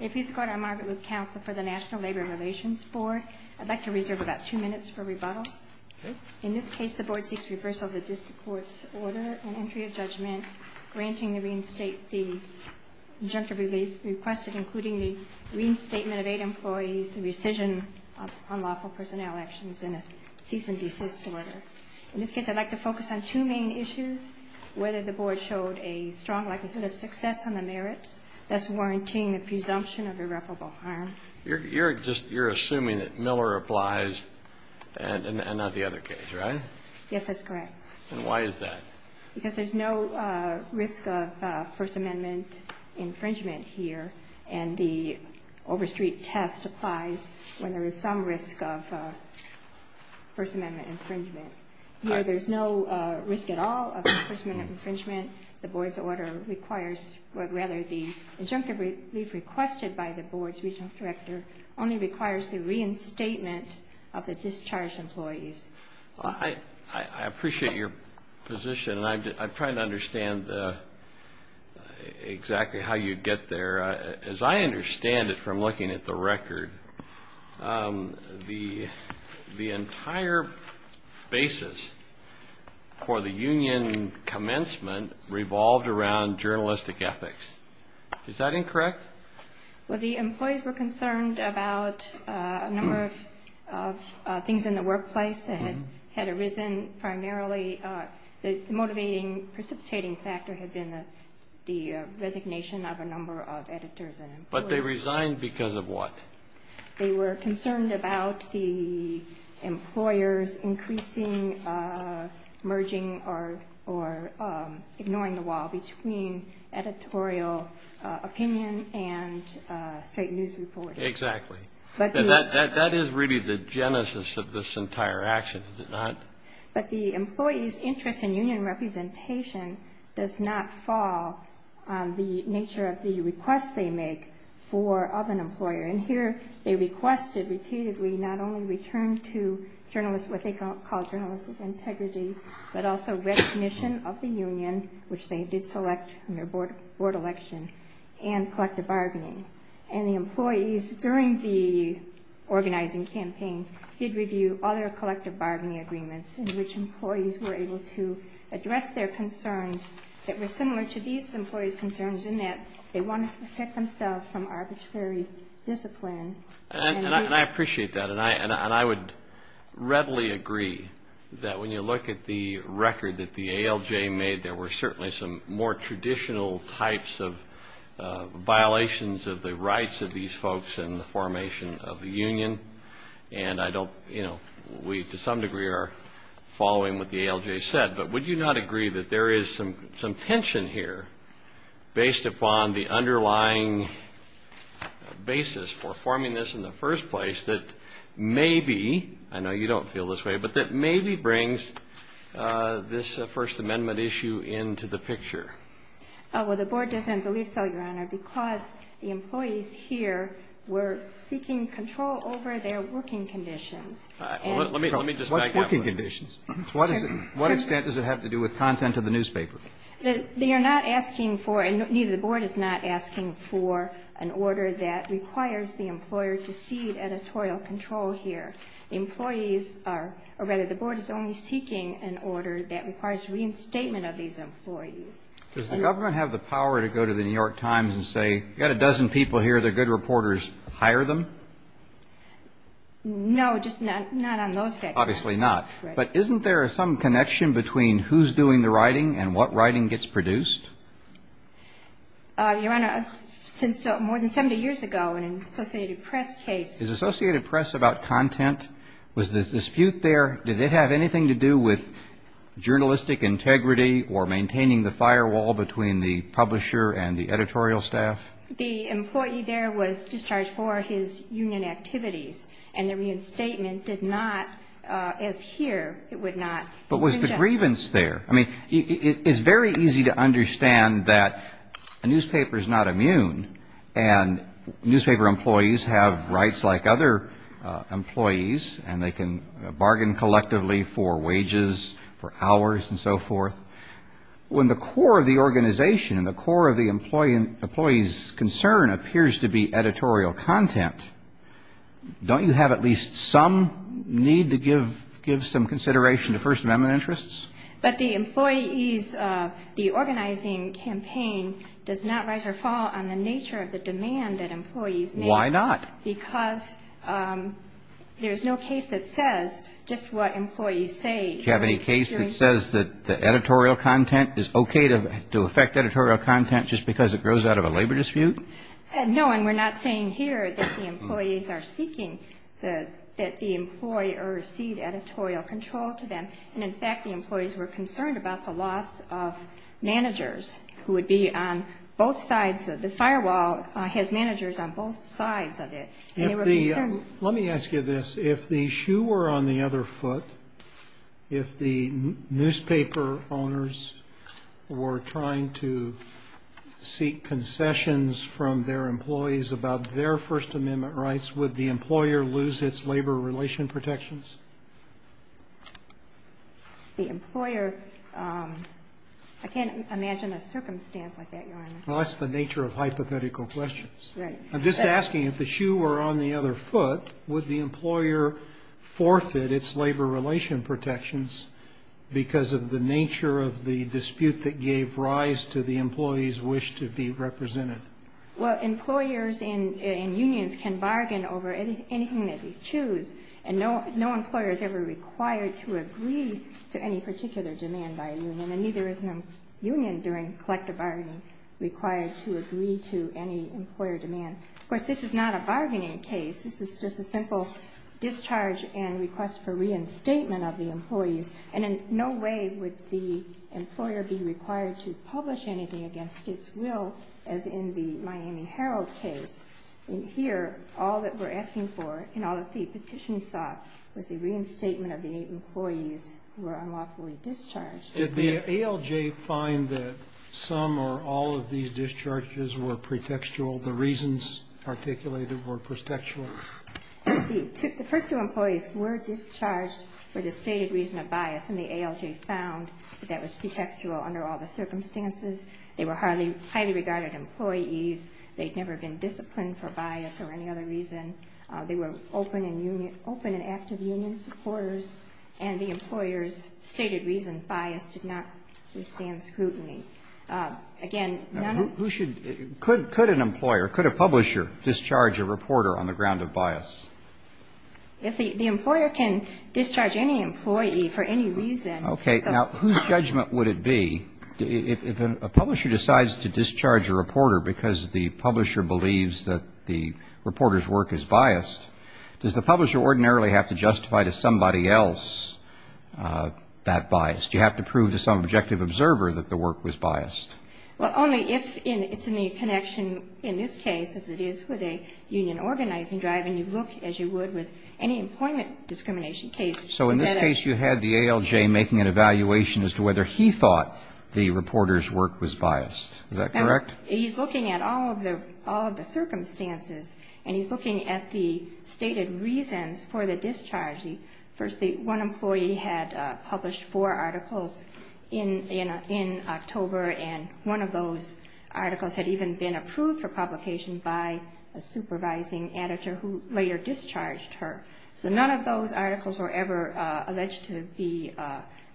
If you support our Margaret Loop Council for the National Labor Relations Board, I'd like to reserve about two minutes for rebuttal. In this case, the board seeks reversal of the district court's order and entry of judgment, granting the reinstate the injunctive relief requested, including the reinstatement of eight employees, the rescission of unlawful personnel actions, and a cease and desist order. In this case, I'd like to focus on two main issues. Whether the board showed a strong likelihood of success on the merits, thus warranting the presumption of irreparable harm. You're just, you're assuming that Miller applies and not the other case, right? Yes, that's correct. And why is that? Because there's no risk of First Amendment infringement here, and the Overstreet test applies when there is some risk of First Amendment infringement. There's no risk at all of First Amendment infringement. The board's order requires, or rather the injunctive relief requested by the board's regional director only requires the reinstatement of the discharged employees. I appreciate your position, and I'm trying to understand exactly how you get there. As I understand it from looking at the record, the entire basis for the union commencement revolved around journalistic ethics. Is that incorrect? Well, the employees were concerned about a number of things in the workplace that had arisen. Primarily, the motivating, precipitating factor had been the resignation of a number of editors and employees. But they resigned because of what? They were concerned about the employers increasing, merging, or ignoring the wall between editorial opinion and straight news reporting. Exactly. And that is really the genesis of this entire action, is it not? But the employees' interest in union representation does not fall on the nature of the request they make of an employer. And here, they requested repeatedly not only return to what they call journalistic integrity, but also recognition of the union, which they did select in their board election, and collective bargaining. And the employees, during the organizing campaign, did review other collective bargaining agreements in which employees were able to address their concerns that were similar to these employees' concerns in that they wanted to protect themselves from arbitrary discipline. And I appreciate that. And I would readily agree that when you look at the record that the ALJ made, there were certainly some more traditional types of violations of the rights of these folks in the formation of the union. And I don't, you know, we to some degree are following what the ALJ said. But would you not agree that there is some tension here, based upon the underlying basis for forming this in the first place, that maybe, I know you don't feel this way, but that maybe brings this First Amendment issue into the picture? Well, the board doesn't believe so, Your Honor, because the employees here were seeking control over their working conditions. Let me just back up. What's working conditions? What extent does it have to do with content of the newspaper? They are not asking for, and neither the board is not asking for, an order that requires the employer to cede editorial control here. Employees are, or rather, the board is only seeking an order that requires reinstatement of these employees. Does the government have the power to go to the New York Times and say, you've got a dozen people here, they're good reporters, hire them? No, just not on those schedules. Obviously not. But isn't there some connection between who's doing the writing and what writing gets produced? Your Honor, since more than 70 years ago, in an Associated Press case. Is Associated Press about content? Was there a dispute there? Did it have anything to do with journalistic integrity or maintaining the firewall between the publisher and the editorial staff? The employee there was discharged for his union activities. And the reinstatement did not, as here, it would not. But was the grievance there? I mean, it's very easy to understand that a newspaper is not immune. And newspaper employees have rights like other employees. And they can bargain collectively for wages, for hours, and so forth. When the core of the organization and the core of the employee's concern appears to be editorial content, don't you have at least some need to give some consideration to First Amendment interests? But the employees, the organizing campaign does not rise or fall on the nature of the demand that employees make. Why not? Because there's no case that says just what employees say. Do you have any case that says that the editorial content is okay to affect editorial content just because it grows out of a labor dispute? No, and we're not saying here that the employees are seeking that the employee receive editorial control to them. And in fact, the employees were concerned about the loss of managers who would be on both sides. The firewall has managers on both sides of it. Let me ask you this. If the shoe were on the other foot, if the newspaper owners were trying to seek concessions from their employees about their First Amendment rights, would the employer lose its labor relation protections? The employer, I can't imagine a circumstance like that, Your Honor. Well, that's the nature of hypothetical questions. I'm just asking if the shoe were on the other foot, would the employer forfeit its labor relation protections because of the nature of the dispute that gave rise to the employees' wish to be represented? Well, employers and unions can bargain over anything that they choose, and no employer is ever required to agree to any particular demand by a union, and neither is a union during collective bargaining required to agree to any employer demand. Of course, this is not a bargaining case. This is just a simple discharge and request for reinstatement of the employees. And in no way would the employer be required to publish anything against its will, as in the Miami Herald case. In here, all that we're asking for and all that the petition sought was the reinstatement of the employees who were unlawfully discharged. Did the ALJ find that some or all of these discharges were pretextual? The reasons articulated were pretextual? The first two employees were discharged for the stated reason of bias, and the ALJ found that that was pretextual under all the circumstances. They were highly regarded employees. They'd never been disciplined for bias or any other reason. They were open and active union supporters, and the employer's stated reason of bias did not withstand scrutiny. Again, none of... Who should, could an employer, could a publisher discharge a reporter on the ground of bias? If the employer can discharge any employee for any reason... Okay. Now, whose judgment would it be if a publisher decides to discharge a reporter because the publisher believes that the reporter's work is biased, does the publisher ordinarily have to justify to somebody else that bias? Do you have to prove to some objective observer that the work was biased? Well, only if it's in the connection, in this case, as it is with a union organizing drive, and you look as you would with any employment discrimination case. So in this case, you had the ALJ making an evaluation as to whether he thought the reporter's work was biased. Is that correct? He's looking at all of the circumstances, and he's looking at the stated reasons for the discharging. Firstly, one employee had published four articles in October, and one of those articles had even been approved for publication by a supervising editor who later discharged her. So none of those articles were ever alleged to be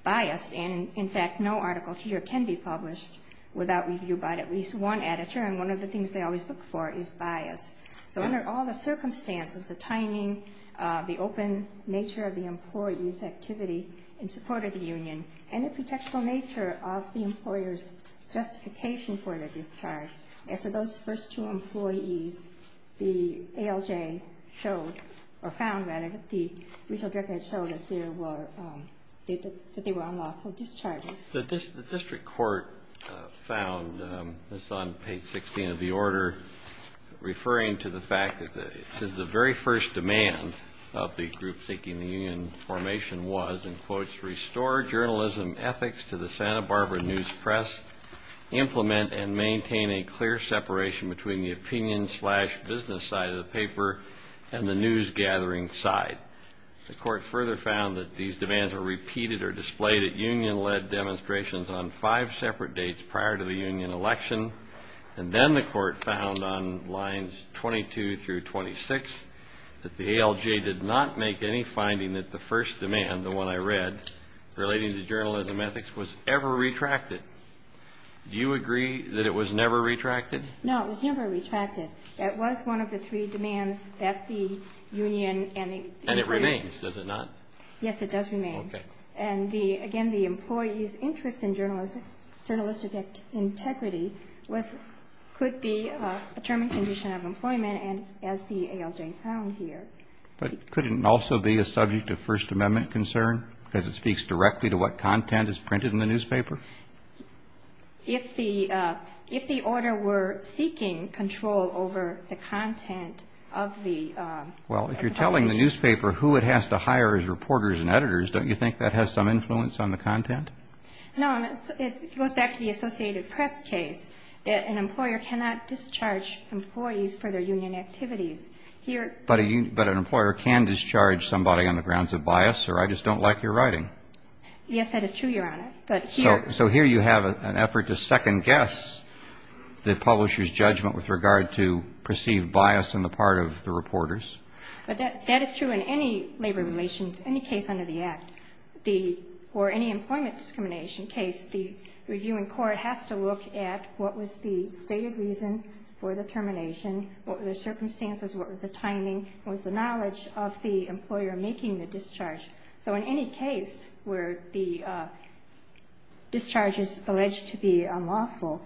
biased. And in fact, no article here can be published without review by at least one editor, and one of the things they always look for is bias. So under all the circumstances, the timing, the open nature of the employee's activity in support of the union, and the protectable nature of the employer's justification for their discharge, as to those first two employees, the ALJ showed, or found, rather, that they were unlawful discharges. The district court found, this is on page 16 of the order, referring to the fact that the very first demand of the group seeking the union formation was, in quotes, restore journalism ethics to the Santa Barbara News Press, implement and maintain a clear separation between the opinion-slash-business side of the paper and the news-gathering side. The court further found that these demands were repeated or displayed at union-led demonstrations on five separate dates prior to the union election. And then the court found, on lines 22 through 26, that the ALJ did not make any finding that the first demand, the one I read, relating to journalism ethics, was ever retracted. Do you agree that it was never retracted? No, it was never retracted. That was one of the three demands that the union and the employees... And it remains, does it not? Yes, it does remain. Okay. And again, the employees' interest in journalistic integrity could be a determined condition of employment, as the ALJ found here. But could it also be a subject of First Amendment concern, because it speaks directly to what content is printed in the newspaper? If the order were seeking control over the content of the... Well, if you're telling the newspaper who it has to hire as reporters and editors, don't you think that has some influence on the content? No, it goes back to the Associated Press case. An employer cannot discharge employees for their union activities. But an employer can discharge somebody on the grounds of bias, or I just don't like your writing. Yes, that is true, Your Honor. So here you have an effort to second-guess the publisher's judgment with regard to perceived bias on the part of the reporters. But that is true in any labor relations, any case under the Act, or any employment discrimination case. The reviewing court has to look at what was the stated reason for the termination, what were the circumstances, what were the timing, what was the knowledge of the employer making the discharge. So in any case where the discharge is alleged to be unlawful,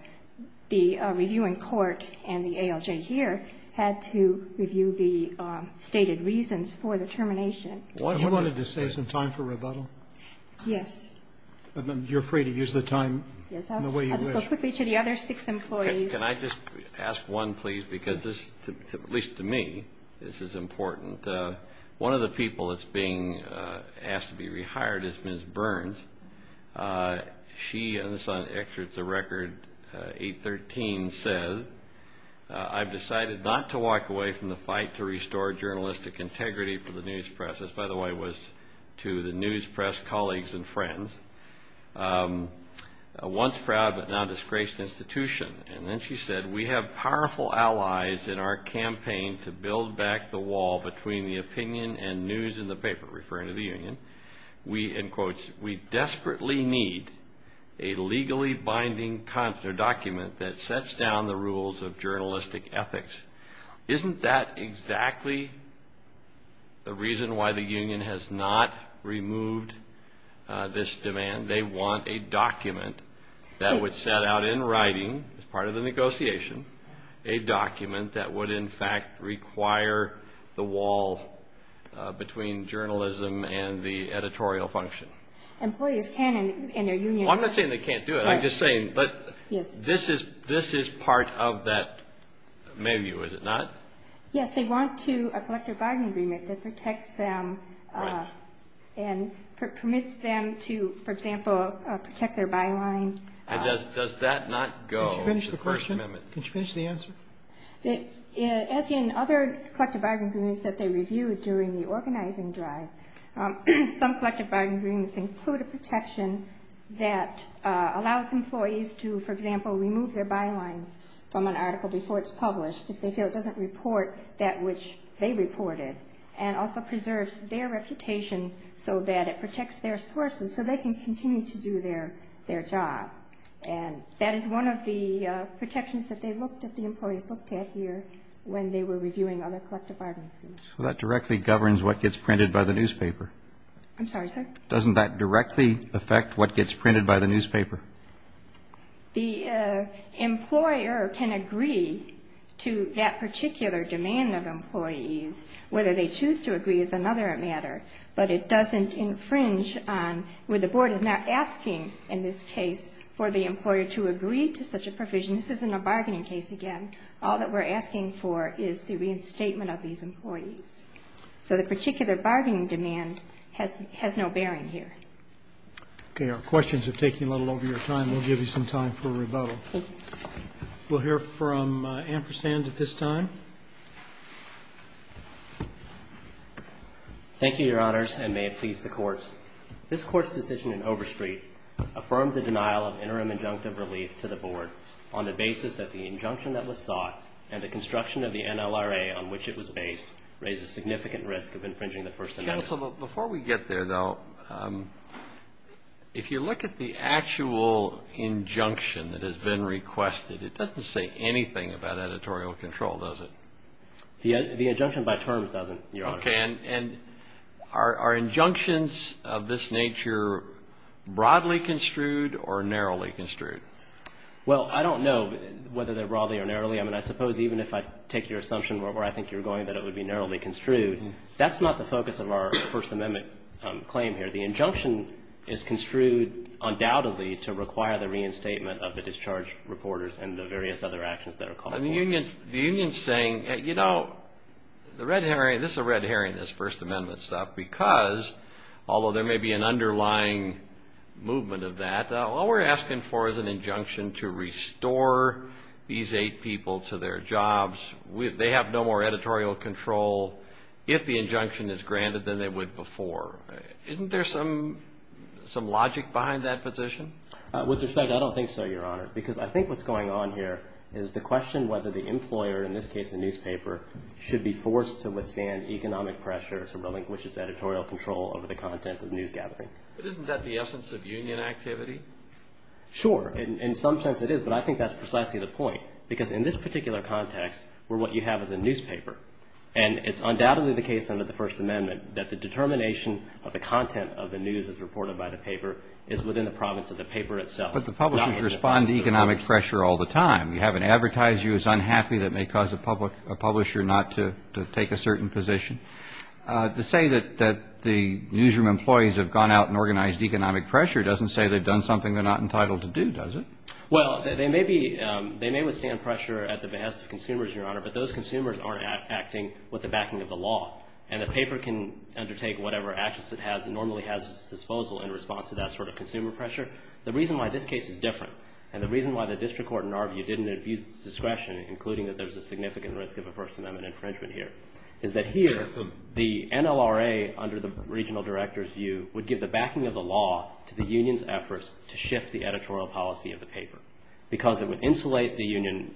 the reviewing court and the ALJ here had to review the stated reasons for the termination. You wanted to save some time for rebuttal? Yes. You're afraid to use the time in the way you wish? I'll just go quickly to the other six employees. Can I just ask one, please? Because this, at least to me, this is important. One of the people that's being asked to be rehired is Ms. Burns. She, and this is on the record, 813, says, I've decided not to walk away from the fight to restore journalistic integrity for the news press. This, by the way, was to the news press colleagues and friends. Once proud, but now disgraced institution. And then she said, we have powerful allies in our campaign to build back the wall between the opinion and news in the paper, referring to the union. We, in quotes, we desperately need a legally binding document that sets down the rules of journalistic ethics. Isn't that exactly the reason why the union has not removed this demand? They want a document that would set out in writing, as part of the negotiation, a document that would, in fact, require the wall between journalism and the editorial function. Employees can in their union. I'm not saying they can't do it. I'm just saying, but this is part of that menu, is it not? Yes, they want to, a collective binding agreement that protects them and permits them to, for example, protect their byline. And does that not go to the First Amendment? Can you finish the answer? As in other collective bargaining agreements that they reviewed during the organizing drive, some collective bargaining agreements include a protection that allows employees to, for example, remove their bylines from an article before it's published, if they feel it doesn't report that which they reported, and also preserves their reputation so that it protects their sources so they can continue to do their job. And that is one of the protections that they looked at, the employees looked at here when they were reviewing other collective bargaining agreements. So that directly governs what gets printed by the newspaper? I'm sorry, sir? Doesn't that directly affect what gets printed by the newspaper? The employer can agree to that particular demand of employees, whether they choose to agree is another matter, but it doesn't infringe on where the board is not asking, in this case, for the employer to agree to such a provision. This isn't a bargaining case, again. All that we're asking for is the reinstatement of these employees. So the particular bargaining demand has no bearing here. Okay. Our questions are taking a little over your time. We'll give you some time for rebuttal. We'll hear from Ampersand at this time. Thank you, Your Honors, and may it please the Court. This Court's decision in Overstreet affirmed the denial of interim injunctive relief to the board on the basis that the injunction that was sought and the construction of the NLRA on which it was based raises significant risk of infringing the First Amendment. Counsel, before we get there, though, if you look at the actual injunction that has been requested, it doesn't say anything about editorial control, does it? The injunction by terms doesn't, Your Honor. Okay. And are injunctions of this nature broadly construed or narrowly construed? Well, I don't know whether they're broadly or narrowly. I mean, I suppose even if I take your assumption where I think you're going, that it would be narrowly construed. That's not the focus of our First Amendment claim here. The injunction is construed undoubtedly to require the reinstatement of the discharge reporters and the various other actions that are called for. The union's saying, you know, the red herring, this is a red herring, this First Amendment stuff, because although there may be an underlying movement of that, all we're asking for is an injunction to restore these eight people to their jobs. They have no more editorial control if the injunction is granted than they would before. Isn't there some logic behind that position? With respect, I don't think so, Your Honor, because I think what's going on here is the question whether the employer, in this case the newspaper, should be forced to withstand economic pressure to relinquish its editorial control over the content of news gathering. But isn't that the essence of union activity? Sure. In some sense it is. But I think that's precisely the point. Because in this particular context, we're what you have as a newspaper. And it's undoubtedly the case under the First Amendment that the determination of the content of the news as reported by the paper is within the province of the paper itself. But the publishers respond to economic pressure all the time. You have an advertiser who's unhappy that may cause a publisher not to take a certain position. To say that the newsroom employees have gone out and organized economic pressure doesn't say they've done something they're not entitled to do, does it? Well, they may withstand pressure at the behest of consumers, Your Honor, but those consumers aren't acting with the backing of the law. And the paper can undertake whatever actions it has and normally has at its disposal in response to that sort of consumer pressure. The reason why this case is different and the reason why the district court in our view didn't abuse its discretion, including that there's a significant risk of a First Amendment infringement here, is that here the NLRA, under the regional director's view, would give the backing of the law to the union's efforts to shift the editorial policy of the paper. Because it would insulate the union,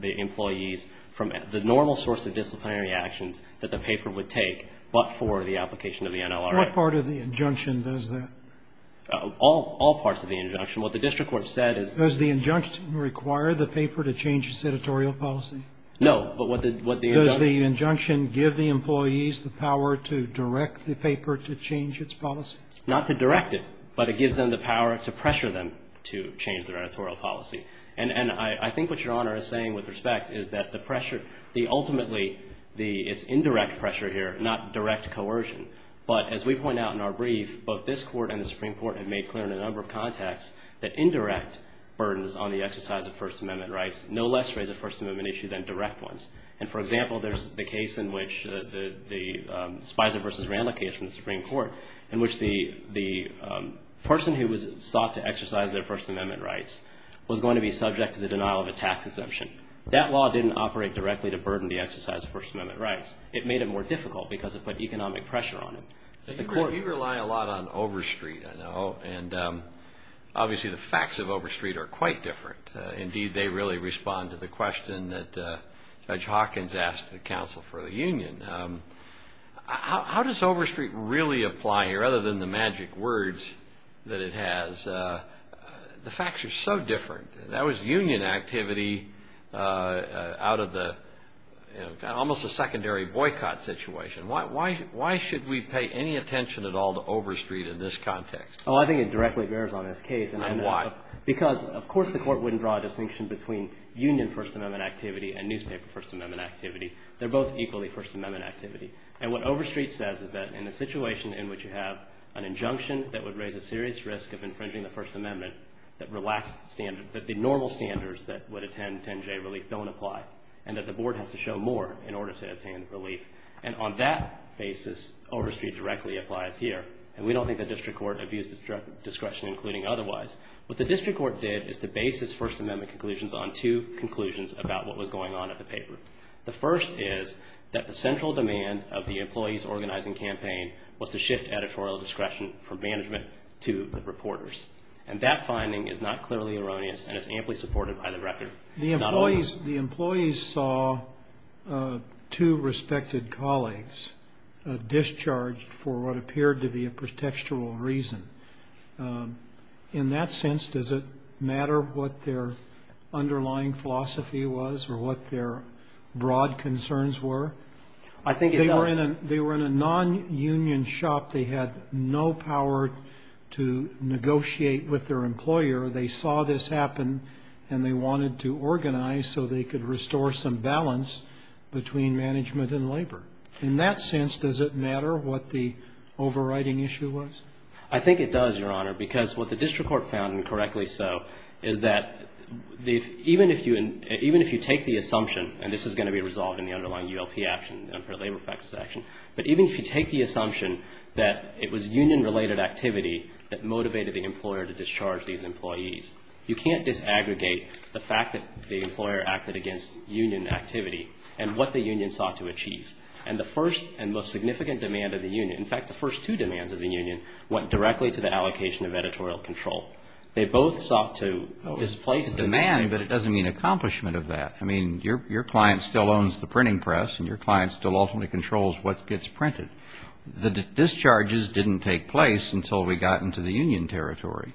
the employees, from the normal source of disciplinary actions that the paper would take but for the application of the NLRA. What part of the injunction does that? All parts of the injunction. What the district court said is Does the injunction require the paper to change its editorial policy? No. But what the Does the injunction give the employees the power to direct the paper to change its policy? Not to direct it, but it gives them the power to pressure them to change their editorial policy. And I think what Your Honor is saying with respect is that the pressure, the ultimately, it's indirect pressure here, not direct coercion. But as we point out in our brief, both this Court and the Supreme Court have made clear in a number of contexts that indirect burdens on the exercise of First Amendment rights no less raise a First Amendment issue than direct ones. And for example, there's the case in which the Spicer v. Randle case in the Supreme Court in which the person who was sought to exercise their First Amendment rights was going to be subject to the denial of a tax exemption. That law didn't operate directly to burden the exercise of First Amendment rights. It made it more difficult because it put economic pressure on it. You rely a lot on overstreet, I know. And obviously, the facts of overstreet are quite different. Indeed, they really respond to the question that Judge Hawkins asked the counsel for the union. How does overstreet really apply here other than the magic words that it has? The facts are so different. That was union activity out of the, you know, almost a secondary boycott situation. Why should we pay any attention at all to overstreet in this context? Well, I think it directly bears on this case. And why? Because, of course, the court wouldn't draw a distinction between union First Amendment activity and newspaper First Amendment activity. They're both equally First Amendment activity. And what overstreet says is that in a situation in which you have an injunction that would raise a serious risk of infringing the First Amendment that relax the standard, that the normal standards that would attend 10-J relief don't apply and that the board has to show more in order to attain relief. And on that basis, overstreet directly applies here. And we don't think the district court abused its discretion, including otherwise. What the district court did is to base its First Amendment conclusions on two conclusions about what was going on at the paper. The first is that the central demand of the employees organizing campaign was to shift editorial discretion from management to the reporters. And that finding is not clearly erroneous and is amply supported by the record. The employees saw two respected colleagues discharged for what appeared to be a pretextual reason. In that sense, does it matter what their underlying philosophy was or what their broad concerns were? I think it does. They were in a non-union shop. They had no power to negotiate with their employer. They saw this happen and they wanted to organize so they could restore some balance between management and labor. In that sense, does it matter what the overriding issue was? I think it does, Your Honor, because what the district court found, and correctly so, is that even if you take the assumption, and this is going to be resolved in the underlying ULP action, the unfair labor practice action, but even if you take the assumption that it was union-related activity that motivated the employer to discharge these employees, you can't disaggregate the fact that the employer acted against union activity and what the union sought to achieve. And the first and most significant demand of the union, in fact, the first two demands of the union, went directly to the allocation of editorial control. They both sought to displace the demand. But it doesn't mean accomplishment of that. I mean, your client still owns the printing press and your client still ultimately controls what gets printed. The discharges didn't take place until we got into the union territory.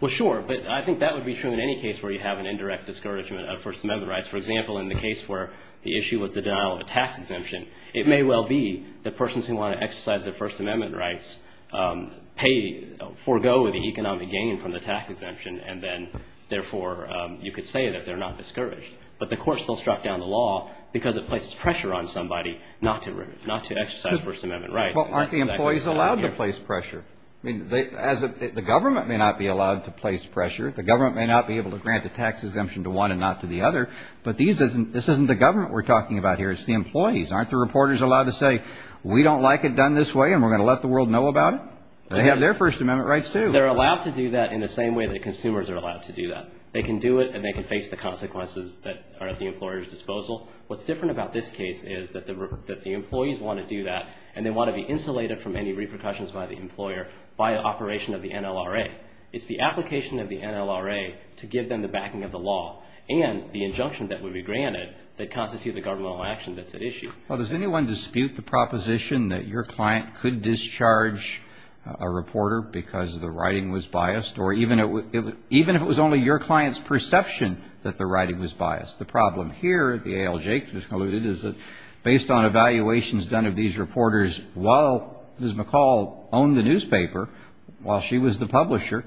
Well, sure. But I think that would be true in any case where you have an indirect discouragement of First Amendment rights. For example, in the case where the issue was the denial of a tax exemption, it may well be that persons who want to exercise their First Amendment rights forego the economic gain from the tax exemption and then, therefore, you could say that they're not discouraged. But the court still struck down the law because it places pressure on somebody not to exercise First Amendment rights. Well, aren't the employees allowed to place pressure? I mean, the government may not be allowed to place pressure. The government may not be able to grant a tax exemption to one and not to the other. But this isn't the government we're talking about here. It's the employees. Aren't the reporters allowed to say, we don't like it done this way and we're going to let the world know about it? They have their First Amendment rights, too. They're allowed to do that in the same way They can do it and they can face the consequences that are at the employer's disposal. What's different about this case is that the employees want to do that and they want to be insulated from any repercussions by the employer by operation of the NLRA. It's the application of the NLRA to give them the backing of the law and the injunction that would be granted that constitute the governmental action that's at issue. Well, does anyone dispute the proposition that your client could discharge a reporter because the writing was biased or even if it was only your client's perception that the writing was biased? The problem here, the ALJ has alluded, is that based on evaluations done of these reporters while Ms. McCall owned the newspaper, while she was the publisher,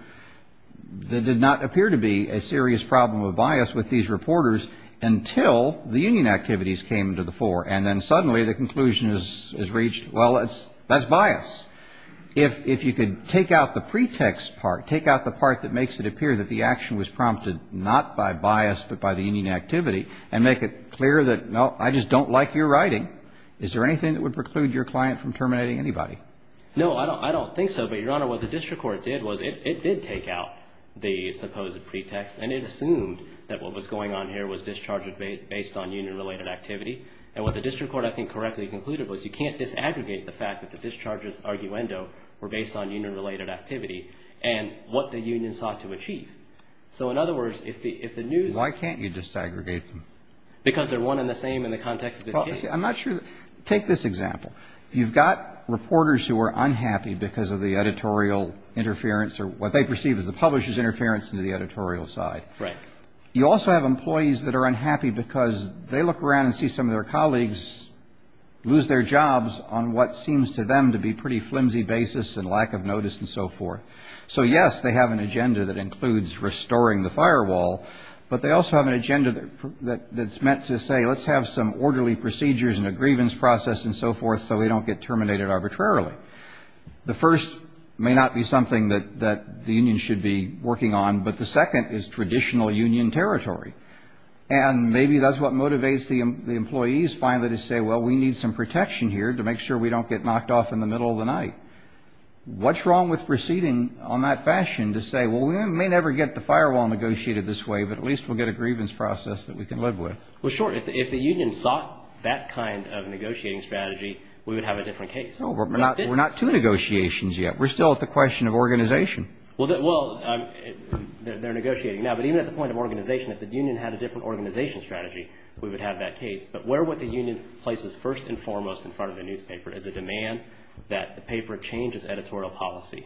there did not appear to be a serious problem of bias with these reporters until the union activities came to the fore and then suddenly the conclusion is reached, well, that's bias. If you could take out the pretext part, take out the part that makes it appear that the action was prompted not by bias but by the union activity and make it clear that, no, I just don't like your writing, is there anything that would preclude your client from terminating anybody? No, I don't think so, but, Your Honor, what the district court did was it did take out the supposed pretext and it assumed that what was going on here was discharge based on union-related activity and what the district court, I think, correctly concluded was you can't disaggregate the fact that the discharge's arguendo were based on union-related activity and what the union sought to achieve. So, in other words, if the news... Well, why can't you disaggregate them? Because they're one and the same in the context of this case. Well, I'm not sure... Take this example. You've got reporters who are unhappy because of the editorial interference or what they perceive as the publisher's interference into the editorial side. Right. You also have employees that are unhappy because they look around and see some of their colleagues lose their jobs on what seems to them to be pretty flimsy basis and lack of notice and so forth. So, yes, they have an agenda that includes restoring the firewall, but they also have an agenda that's meant to say, let's have some orderly procedures and a grievance process and so forth so we don't get terminated arbitrarily. The first may not be something that the union should be working on, but the second is traditional union territory. And maybe that's what motivates the employees finally to say, well, we need some protection here to make sure we don't get knocked off in the middle of the night. What's wrong with proceeding on that fashion to say, well, we may never get the firewall negotiated this way, but at least we'll get a grievance process that we can live with. Well, sure. If the union sought that kind of negotiating strategy, we would have a different case. No, we're not two negotiations yet. We're still at the question of organization. Well, they're negotiating now, but even at the point of organization, if the union had a different organization strategy, we would have that case. But where would the union places first and foremost in front of the newspaper is a demand that the paper changes editorial policy.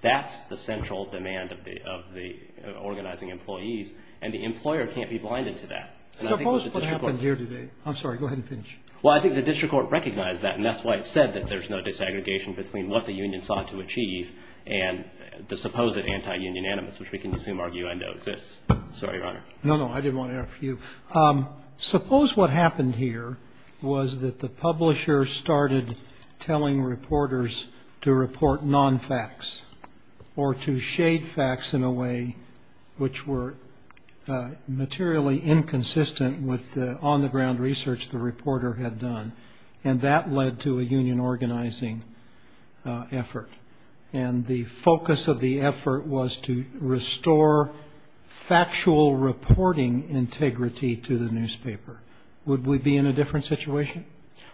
That's the central demand of the organizing employees. And the employer can't be blinded to that. Suppose what happened here today. I'm sorry. Go ahead and finish. Well, I think the district court recognized that. And that's why it said that there's no disaggregation between what the union sought to achieve and the supposed anti-union animus, which we can assume, argue, I know exists. Sorry, Your Honor. No, no. I didn't want to interrupt you. Suppose what happened here was that the publisher started telling reporters to report non-facts or to shade facts in a way which were materially inconsistent with the on-the-ground research the reporter had done. And that led to a union organizing effort. And the focus of the effort was to restore factual reporting integrity to the newspaper. Would we be in a different situation?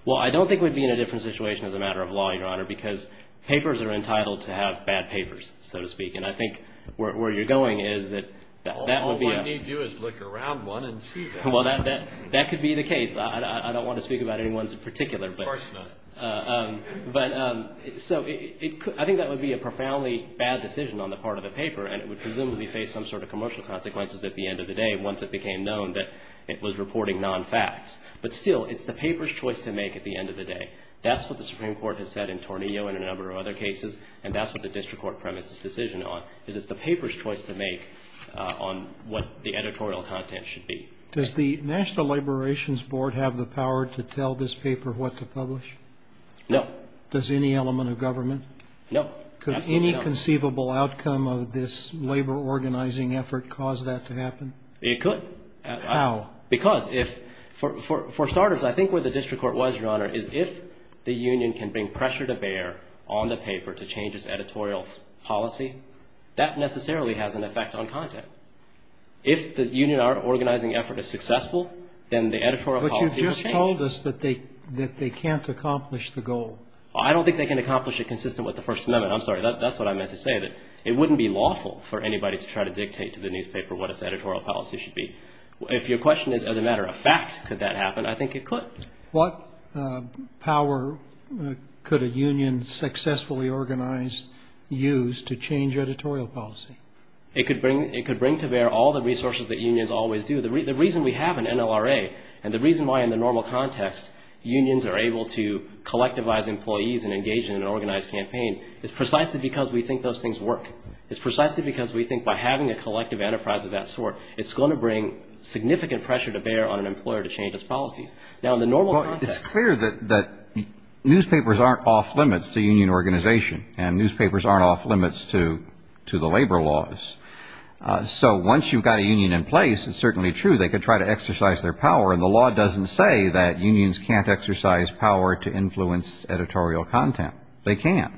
Well, I don't think we'd be in a different situation as a matter of law, Your Honor, because papers are entitled to have bad papers, so to speak. And I think where you're going is that that would be a... All I need you is look around one and see that. Well, that could be the case. I don't want to speak about anyone's particular, but... Of course not. But so I think that would be a profoundly bad decision on the part of the paper. And it would presumably face some sort of commercial consequences at the end of the day, once it became known that it was reporting non-facts. But still, it's the paper's choice to make at the end of the day. That's what the Supreme Court has said in Tornillo and a number of other cases. And that's what the district court premise's decision on. It is the paper's choice to make on what the editorial content should be. Does the National Laborations Board have the power to tell this paper what to publish? No. Does any element of government? No. Could any conceivable outcome of this labor organizing effort cause that to happen? It could. How? Because if, for starters, I think where the district court was, Your Honor, is if the union can bring pressure to bear on the paper to change its editorial policy, that necessarily has an effect on content. If the union organizing effort is successful, then the editorial policy will change. But you've just told us that they can't accomplish the goal. I don't think they can accomplish it consistent with the First Amendment. I'm sorry. That's what I meant to say, that it wouldn't be lawful for anybody to try to dictate to the newspaper what its editorial policy should be. If your question is, as a matter of fact, could that happen? I think it could. What power could a union successfully organize use to change editorial policy? It could bring to bear all the resources that unions always do. The reason we have an NLRA and the reason why in the normal context unions are able to collectivize employees and engage in an organized campaign is precisely because we think those things work. It's precisely because we think by having a collective enterprise of that sort, it's going to bring significant pressure to bear on an employer to change its policies. Now, in the normal context... It's clear that newspapers aren't off limits to union organization and newspapers aren't off limits to the labor laws. So once you've got a union in place, it's certainly true they could try to exercise their power. And the law doesn't say that unions can't exercise power to influence editorial content. They can't.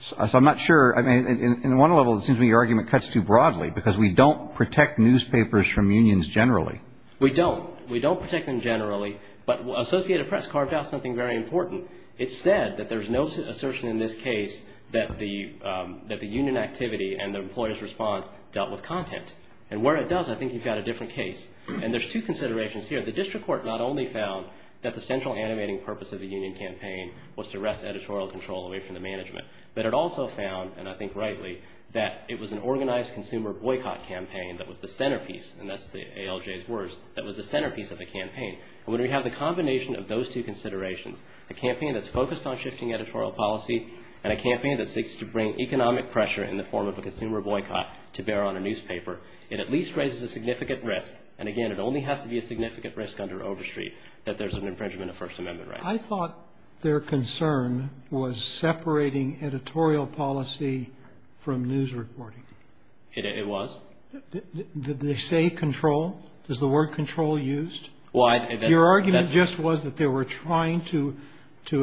So I'm not sure... I mean, in one level it seems to me your argument cuts too broadly because we don't protect newspapers from unions generally. We don't. We don't protect them generally. But Associated Press carved out something very important. It said that there's no assertion in this case that the union activity and the employer's response dealt with content. And where it does, I think you've got a different case. And there's two considerations here. The district court not only found that the central animating purpose of the union campaign was to wrest editorial control away from the management, but it also found, and I think rightly, that it was an organized consumer boycott campaign that was the centerpiece, and that's the ALJ's words, that was the centerpiece of the campaign. And when we have the combination of those two considerations, the campaign that's focused on shifting editorial policy and a campaign that seeks to bring economic pressure in the form of a consumer boycott to bear on a newspaper, it at least raises a significant risk. And again, it only has to be a significant risk under Overstreet that there's an infringement of First Amendment rights. I thought their concern was separating editorial policy from news reporting. It was. Did they say control? Is the word control used? Well, I think that's Your argument just was that they were trying to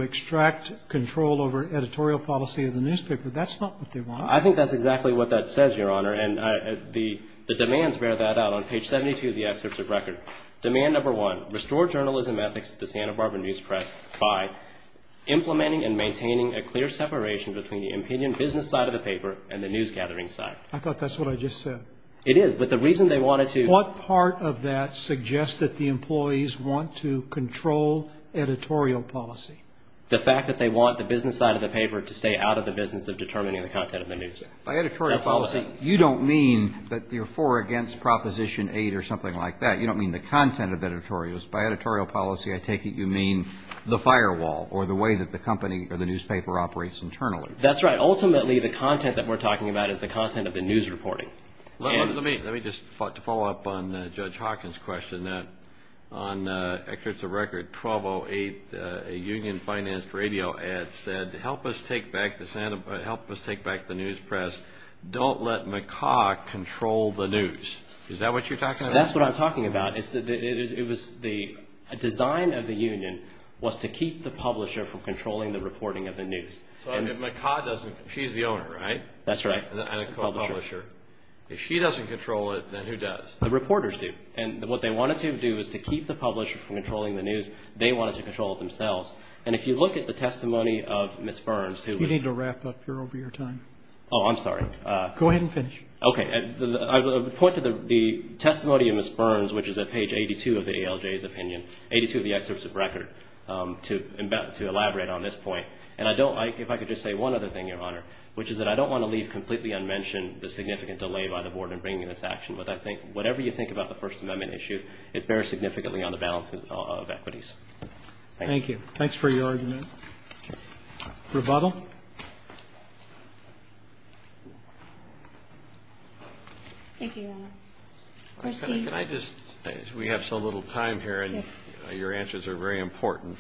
extract control over editorial policy of the newspaper. That's not what they want. I think that's exactly what that says, Your Honor. And the demands bear that out on page 72 of the excerpt of record. Demand number one, restore journalism ethics to the Santa Barbara news press by implementing and maintaining a clear separation between the opinion business side of the paper and the news gathering side. I thought that's what I just said. It is, but the reason they wanted to. What part of that suggests that the employees want to control editorial policy? The fact that they want the business side of the paper to stay out of the business of determining the content of the news. By editorial policy, you don't mean that you're for or against Proposition 8 or something like that. You don't mean the content of editorials. By editorial policy, I take it you mean the firewall or the way that the company or the newspaper operates internally. That's right. Ultimately, the content that we're talking about is the content of the news reporting. Let me just follow up on Judge Hawkins' question that on excerpts of record 1208, a union-financed radio ad said, help us take back the news press. Don't let McCaw control the news. Is that what you're talking about? That's what I'm talking about. It was the design of the union was to keep the publisher from controlling the reporting of the news. So if McCaw doesn't, she's the owner, right? That's right. And I don't call her publisher. If she doesn't control it, then who does? The reporters do. And what they wanted to do was to keep the publisher from controlling the news. They wanted to control themselves. And if you look at the testimony of Ms. Burns, who was... You need to wrap up here over your time. Oh, I'm sorry. Go ahead and finish. Okay. I would point to the testimony of Ms. Burns, which is at page 82 of the ALJ's opinion, 82 of the excerpts of record, to elaborate on this point. And I don't like, if I could just say one other thing, Your Honor, which is that I don't want to leave completely unmentioned the significant delay by the board in bringing this action. But I think whatever you think about the First Amendment issue, it bears significantly on the balance of equities. Thank you. Thanks for your argument. Rebuttal? Thank you, Your Honor. Can I just... We have so little time here and your answers are very important.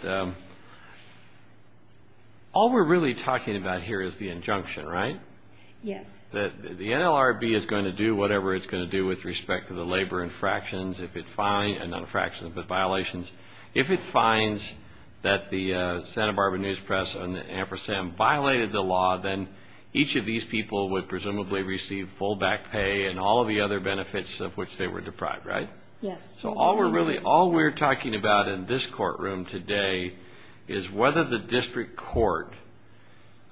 All we're really talking about here is the injunction, right? Yes. The NLRB is going to do whatever it's going to do with respect to the labor infractions, if it finds... Not infractions, but violations. If it finds that the Santa Barbara News Press and the Ampersand violated the law, then each of these people would presumably receive full back pay and all of the other benefits of which they were deprived, right? Yes. So all we're really... All we're talking about in this courtroom today is whether the district court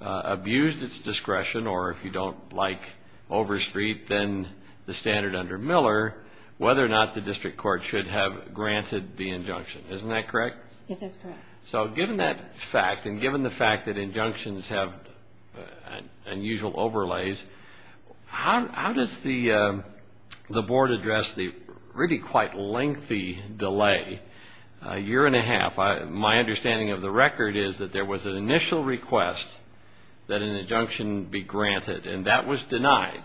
abused its discretion, or if you don't like overstreep, then the standard under Miller, whether or not the district court should have granted the injunction. Isn't that correct? Yes, that's correct. So given that fact, and given the fact that injunctions have unusual overlays, how does the board address the really quite lengthy delay, a year and a half? My understanding of the record is that there was an initial request that an injunction be granted, and that was denied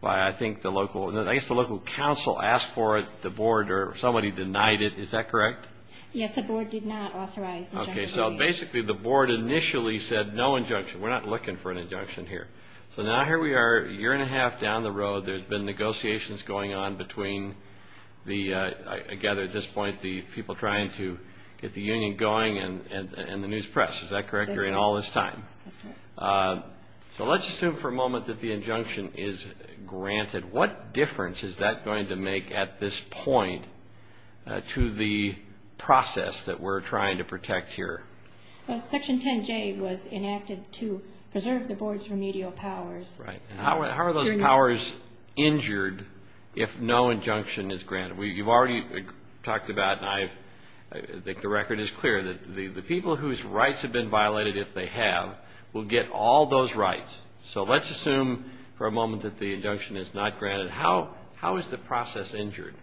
by, I think, the local... I guess the local council asked for it, the board, or somebody denied it. Is that correct? Yes, the board did not authorize... Okay, so basically the board initially said no injunction. We're not looking for an injunction here. So now here we are, a year and a half down the road. There's been negotiations going on between the, I gather at this point, the people trying to get the union going, and the news press. Is that correct? You're in all this time. So let's assume for a moment that the injunction is granted. What difference is that going to make at this point to the process that we're trying to protect here? Section 10J was enacted to preserve the board's remedial powers. Right, and how are those powers injured if no injunction is granted? You've already talked about, and I think the record is clear, that the people whose rights have been violated, if they have, will get all those rights. So let's assume for a moment that the injunction is not granted. How is the process injured?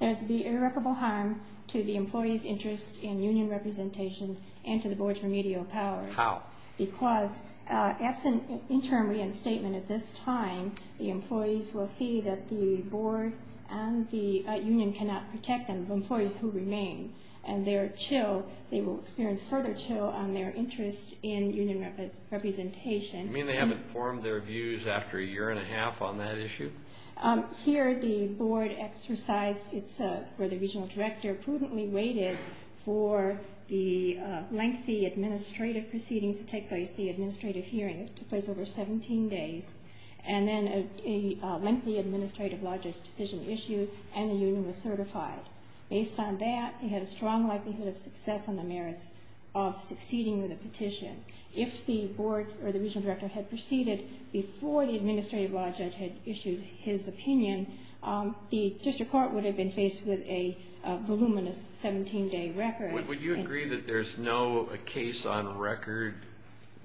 There's the irreparable harm to the employee's interest in union representation and to the board's remedial powers. How? Because absent interim reinstatement at this time, the employees will see that the board and the union cannot protect them, the employees who remain, and they're chill, they will experience further chill on their interest in union representation. You mean they haven't formed their views after a year and a half on that issue? Here the board exercised its, or the regional director prudently waited for the lengthy administrative proceedings to take place, the administrative hearing to place over 17 days, and then a lengthy administrative law judge decision issued and the union was certified. Based on that, you had a strong likelihood of success on the merits of succeeding with a petition. If the board or the regional director had proceeded before the administrative law judge had issued his opinion, the district court would have been faced with a voluminous 17 day record. Would you agree that there's no case on record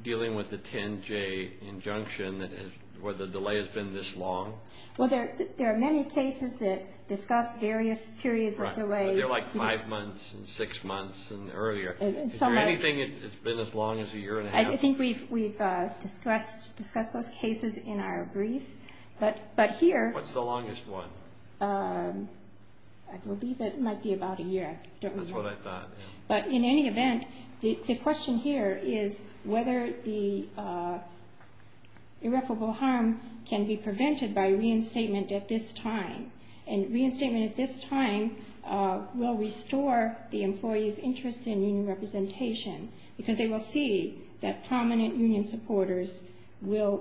dealing with the 10J injunction that has, where the delay has been this long? Well, there are many cases that discuss various periods of delay. They're like five months and six months and earlier. Is there anything that's been as long as a year and a half? I think we've discussed those cases in our brief, but here... What's the longest one? I believe it might be about a year. That's what I thought. But in any event, the question here is whether the irreparable harm can be prevented by reinstatement at this time. And reinstatement at this time will restore the employee's interest in union representation because they will see that prominent union supporters will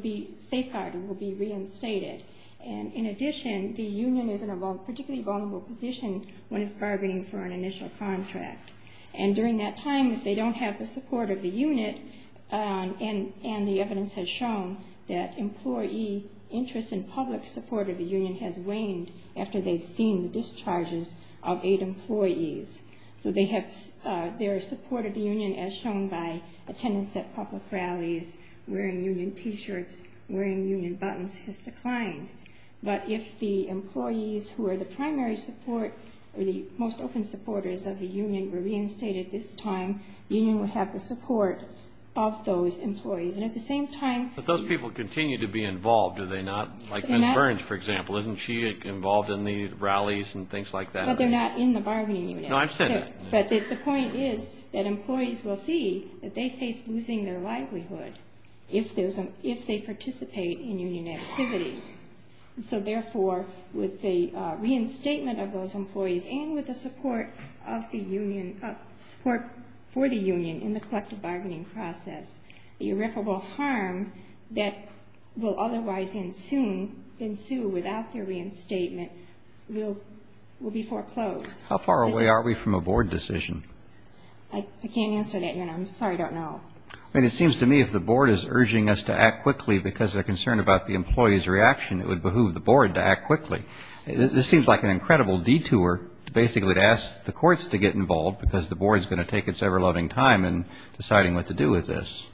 be safeguarded, will be reinstated. And in addition, the union is in a particularly vulnerable position when it's bargaining for an initial contract. And during that time, if they don't have the support of the unit, and the evidence has shown that employee interest in public support of the union has waned after they've seen the discharges of eight employees. So they have their support of the union as shown by attendance at public rallies, wearing union T-shirts, wearing union buttons, has declined. But if the employees who are the primary support or the most open supporters of the union were reinstated this time, the union would have the support of those employees. And at the same time... But those people continue to be involved, do they not? Like Ms. Burns, for example, isn't she involved in the rallies and things like that? But they're not in the bargaining unit. No, I understand that. But the point is that employees will see that they face losing their livelihood if they participate in union activities. So therefore, with the reinstatement of those employees and with the support of the union, support for the union in the collective bargaining process, the irreparable harm that will otherwise ensue without the reinstatement will be foreclosed. How far away are we from a board decision? I can't answer that, and I'm sorry, I don't know. But it seems to me if the board is urging us to act quickly because they're concerned about the employee's reaction, it would behoove the board to act quickly. This seems like an incredible detour to basically to ask the courts to get involved because the board is going to take its ever-loving time in deciding what to do with this.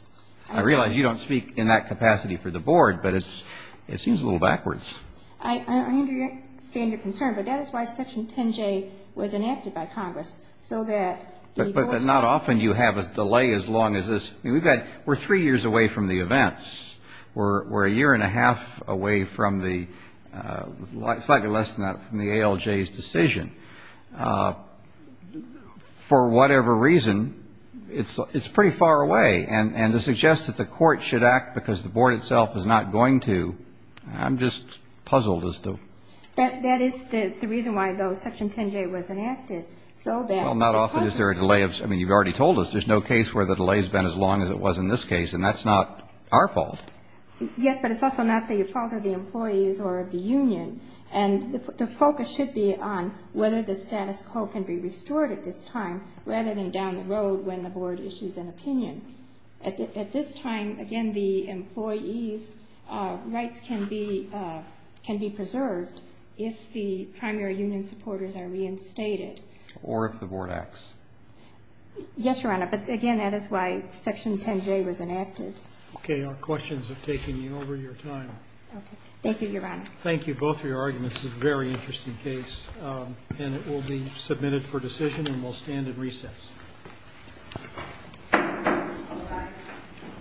I realize you don't speak in that capacity for the board, but it seems a little backwards. I understand your concern, but that is why Section 10J was enacted by Congress, so that But not often you have a delay as long as this. We've got, we're three years away from the events. We're a year and a half away from the slightly less than that from the ALJ's decision. For whatever reason, it's pretty far away. And to suggest that the court should act because the board itself is not going to, I'm just puzzled as to That is the reason why, though, Section 10J was enacted, so that Well, not often is there a delay of I mean, you've already told us there's no case where the delay's been as long as it was in this case, and that's not our fault. Yes, but it's also not the fault of the employees or of the union. And the focus should be on whether the status quo can be restored at this time, rather than down the road when the board issues an opinion. At this time, again, the employees' rights can be can be preserved if the primary union supporters are reinstated. Or if the board acts. Yes, Your Honor, but again, that is why Section 10J was enacted. Okay. Our questions have taken you over your time. Okay. Thank you, Your Honor. Thank you. Both of your arguments is a very interesting case, and it will be submitted for decision, and we'll stand in recess.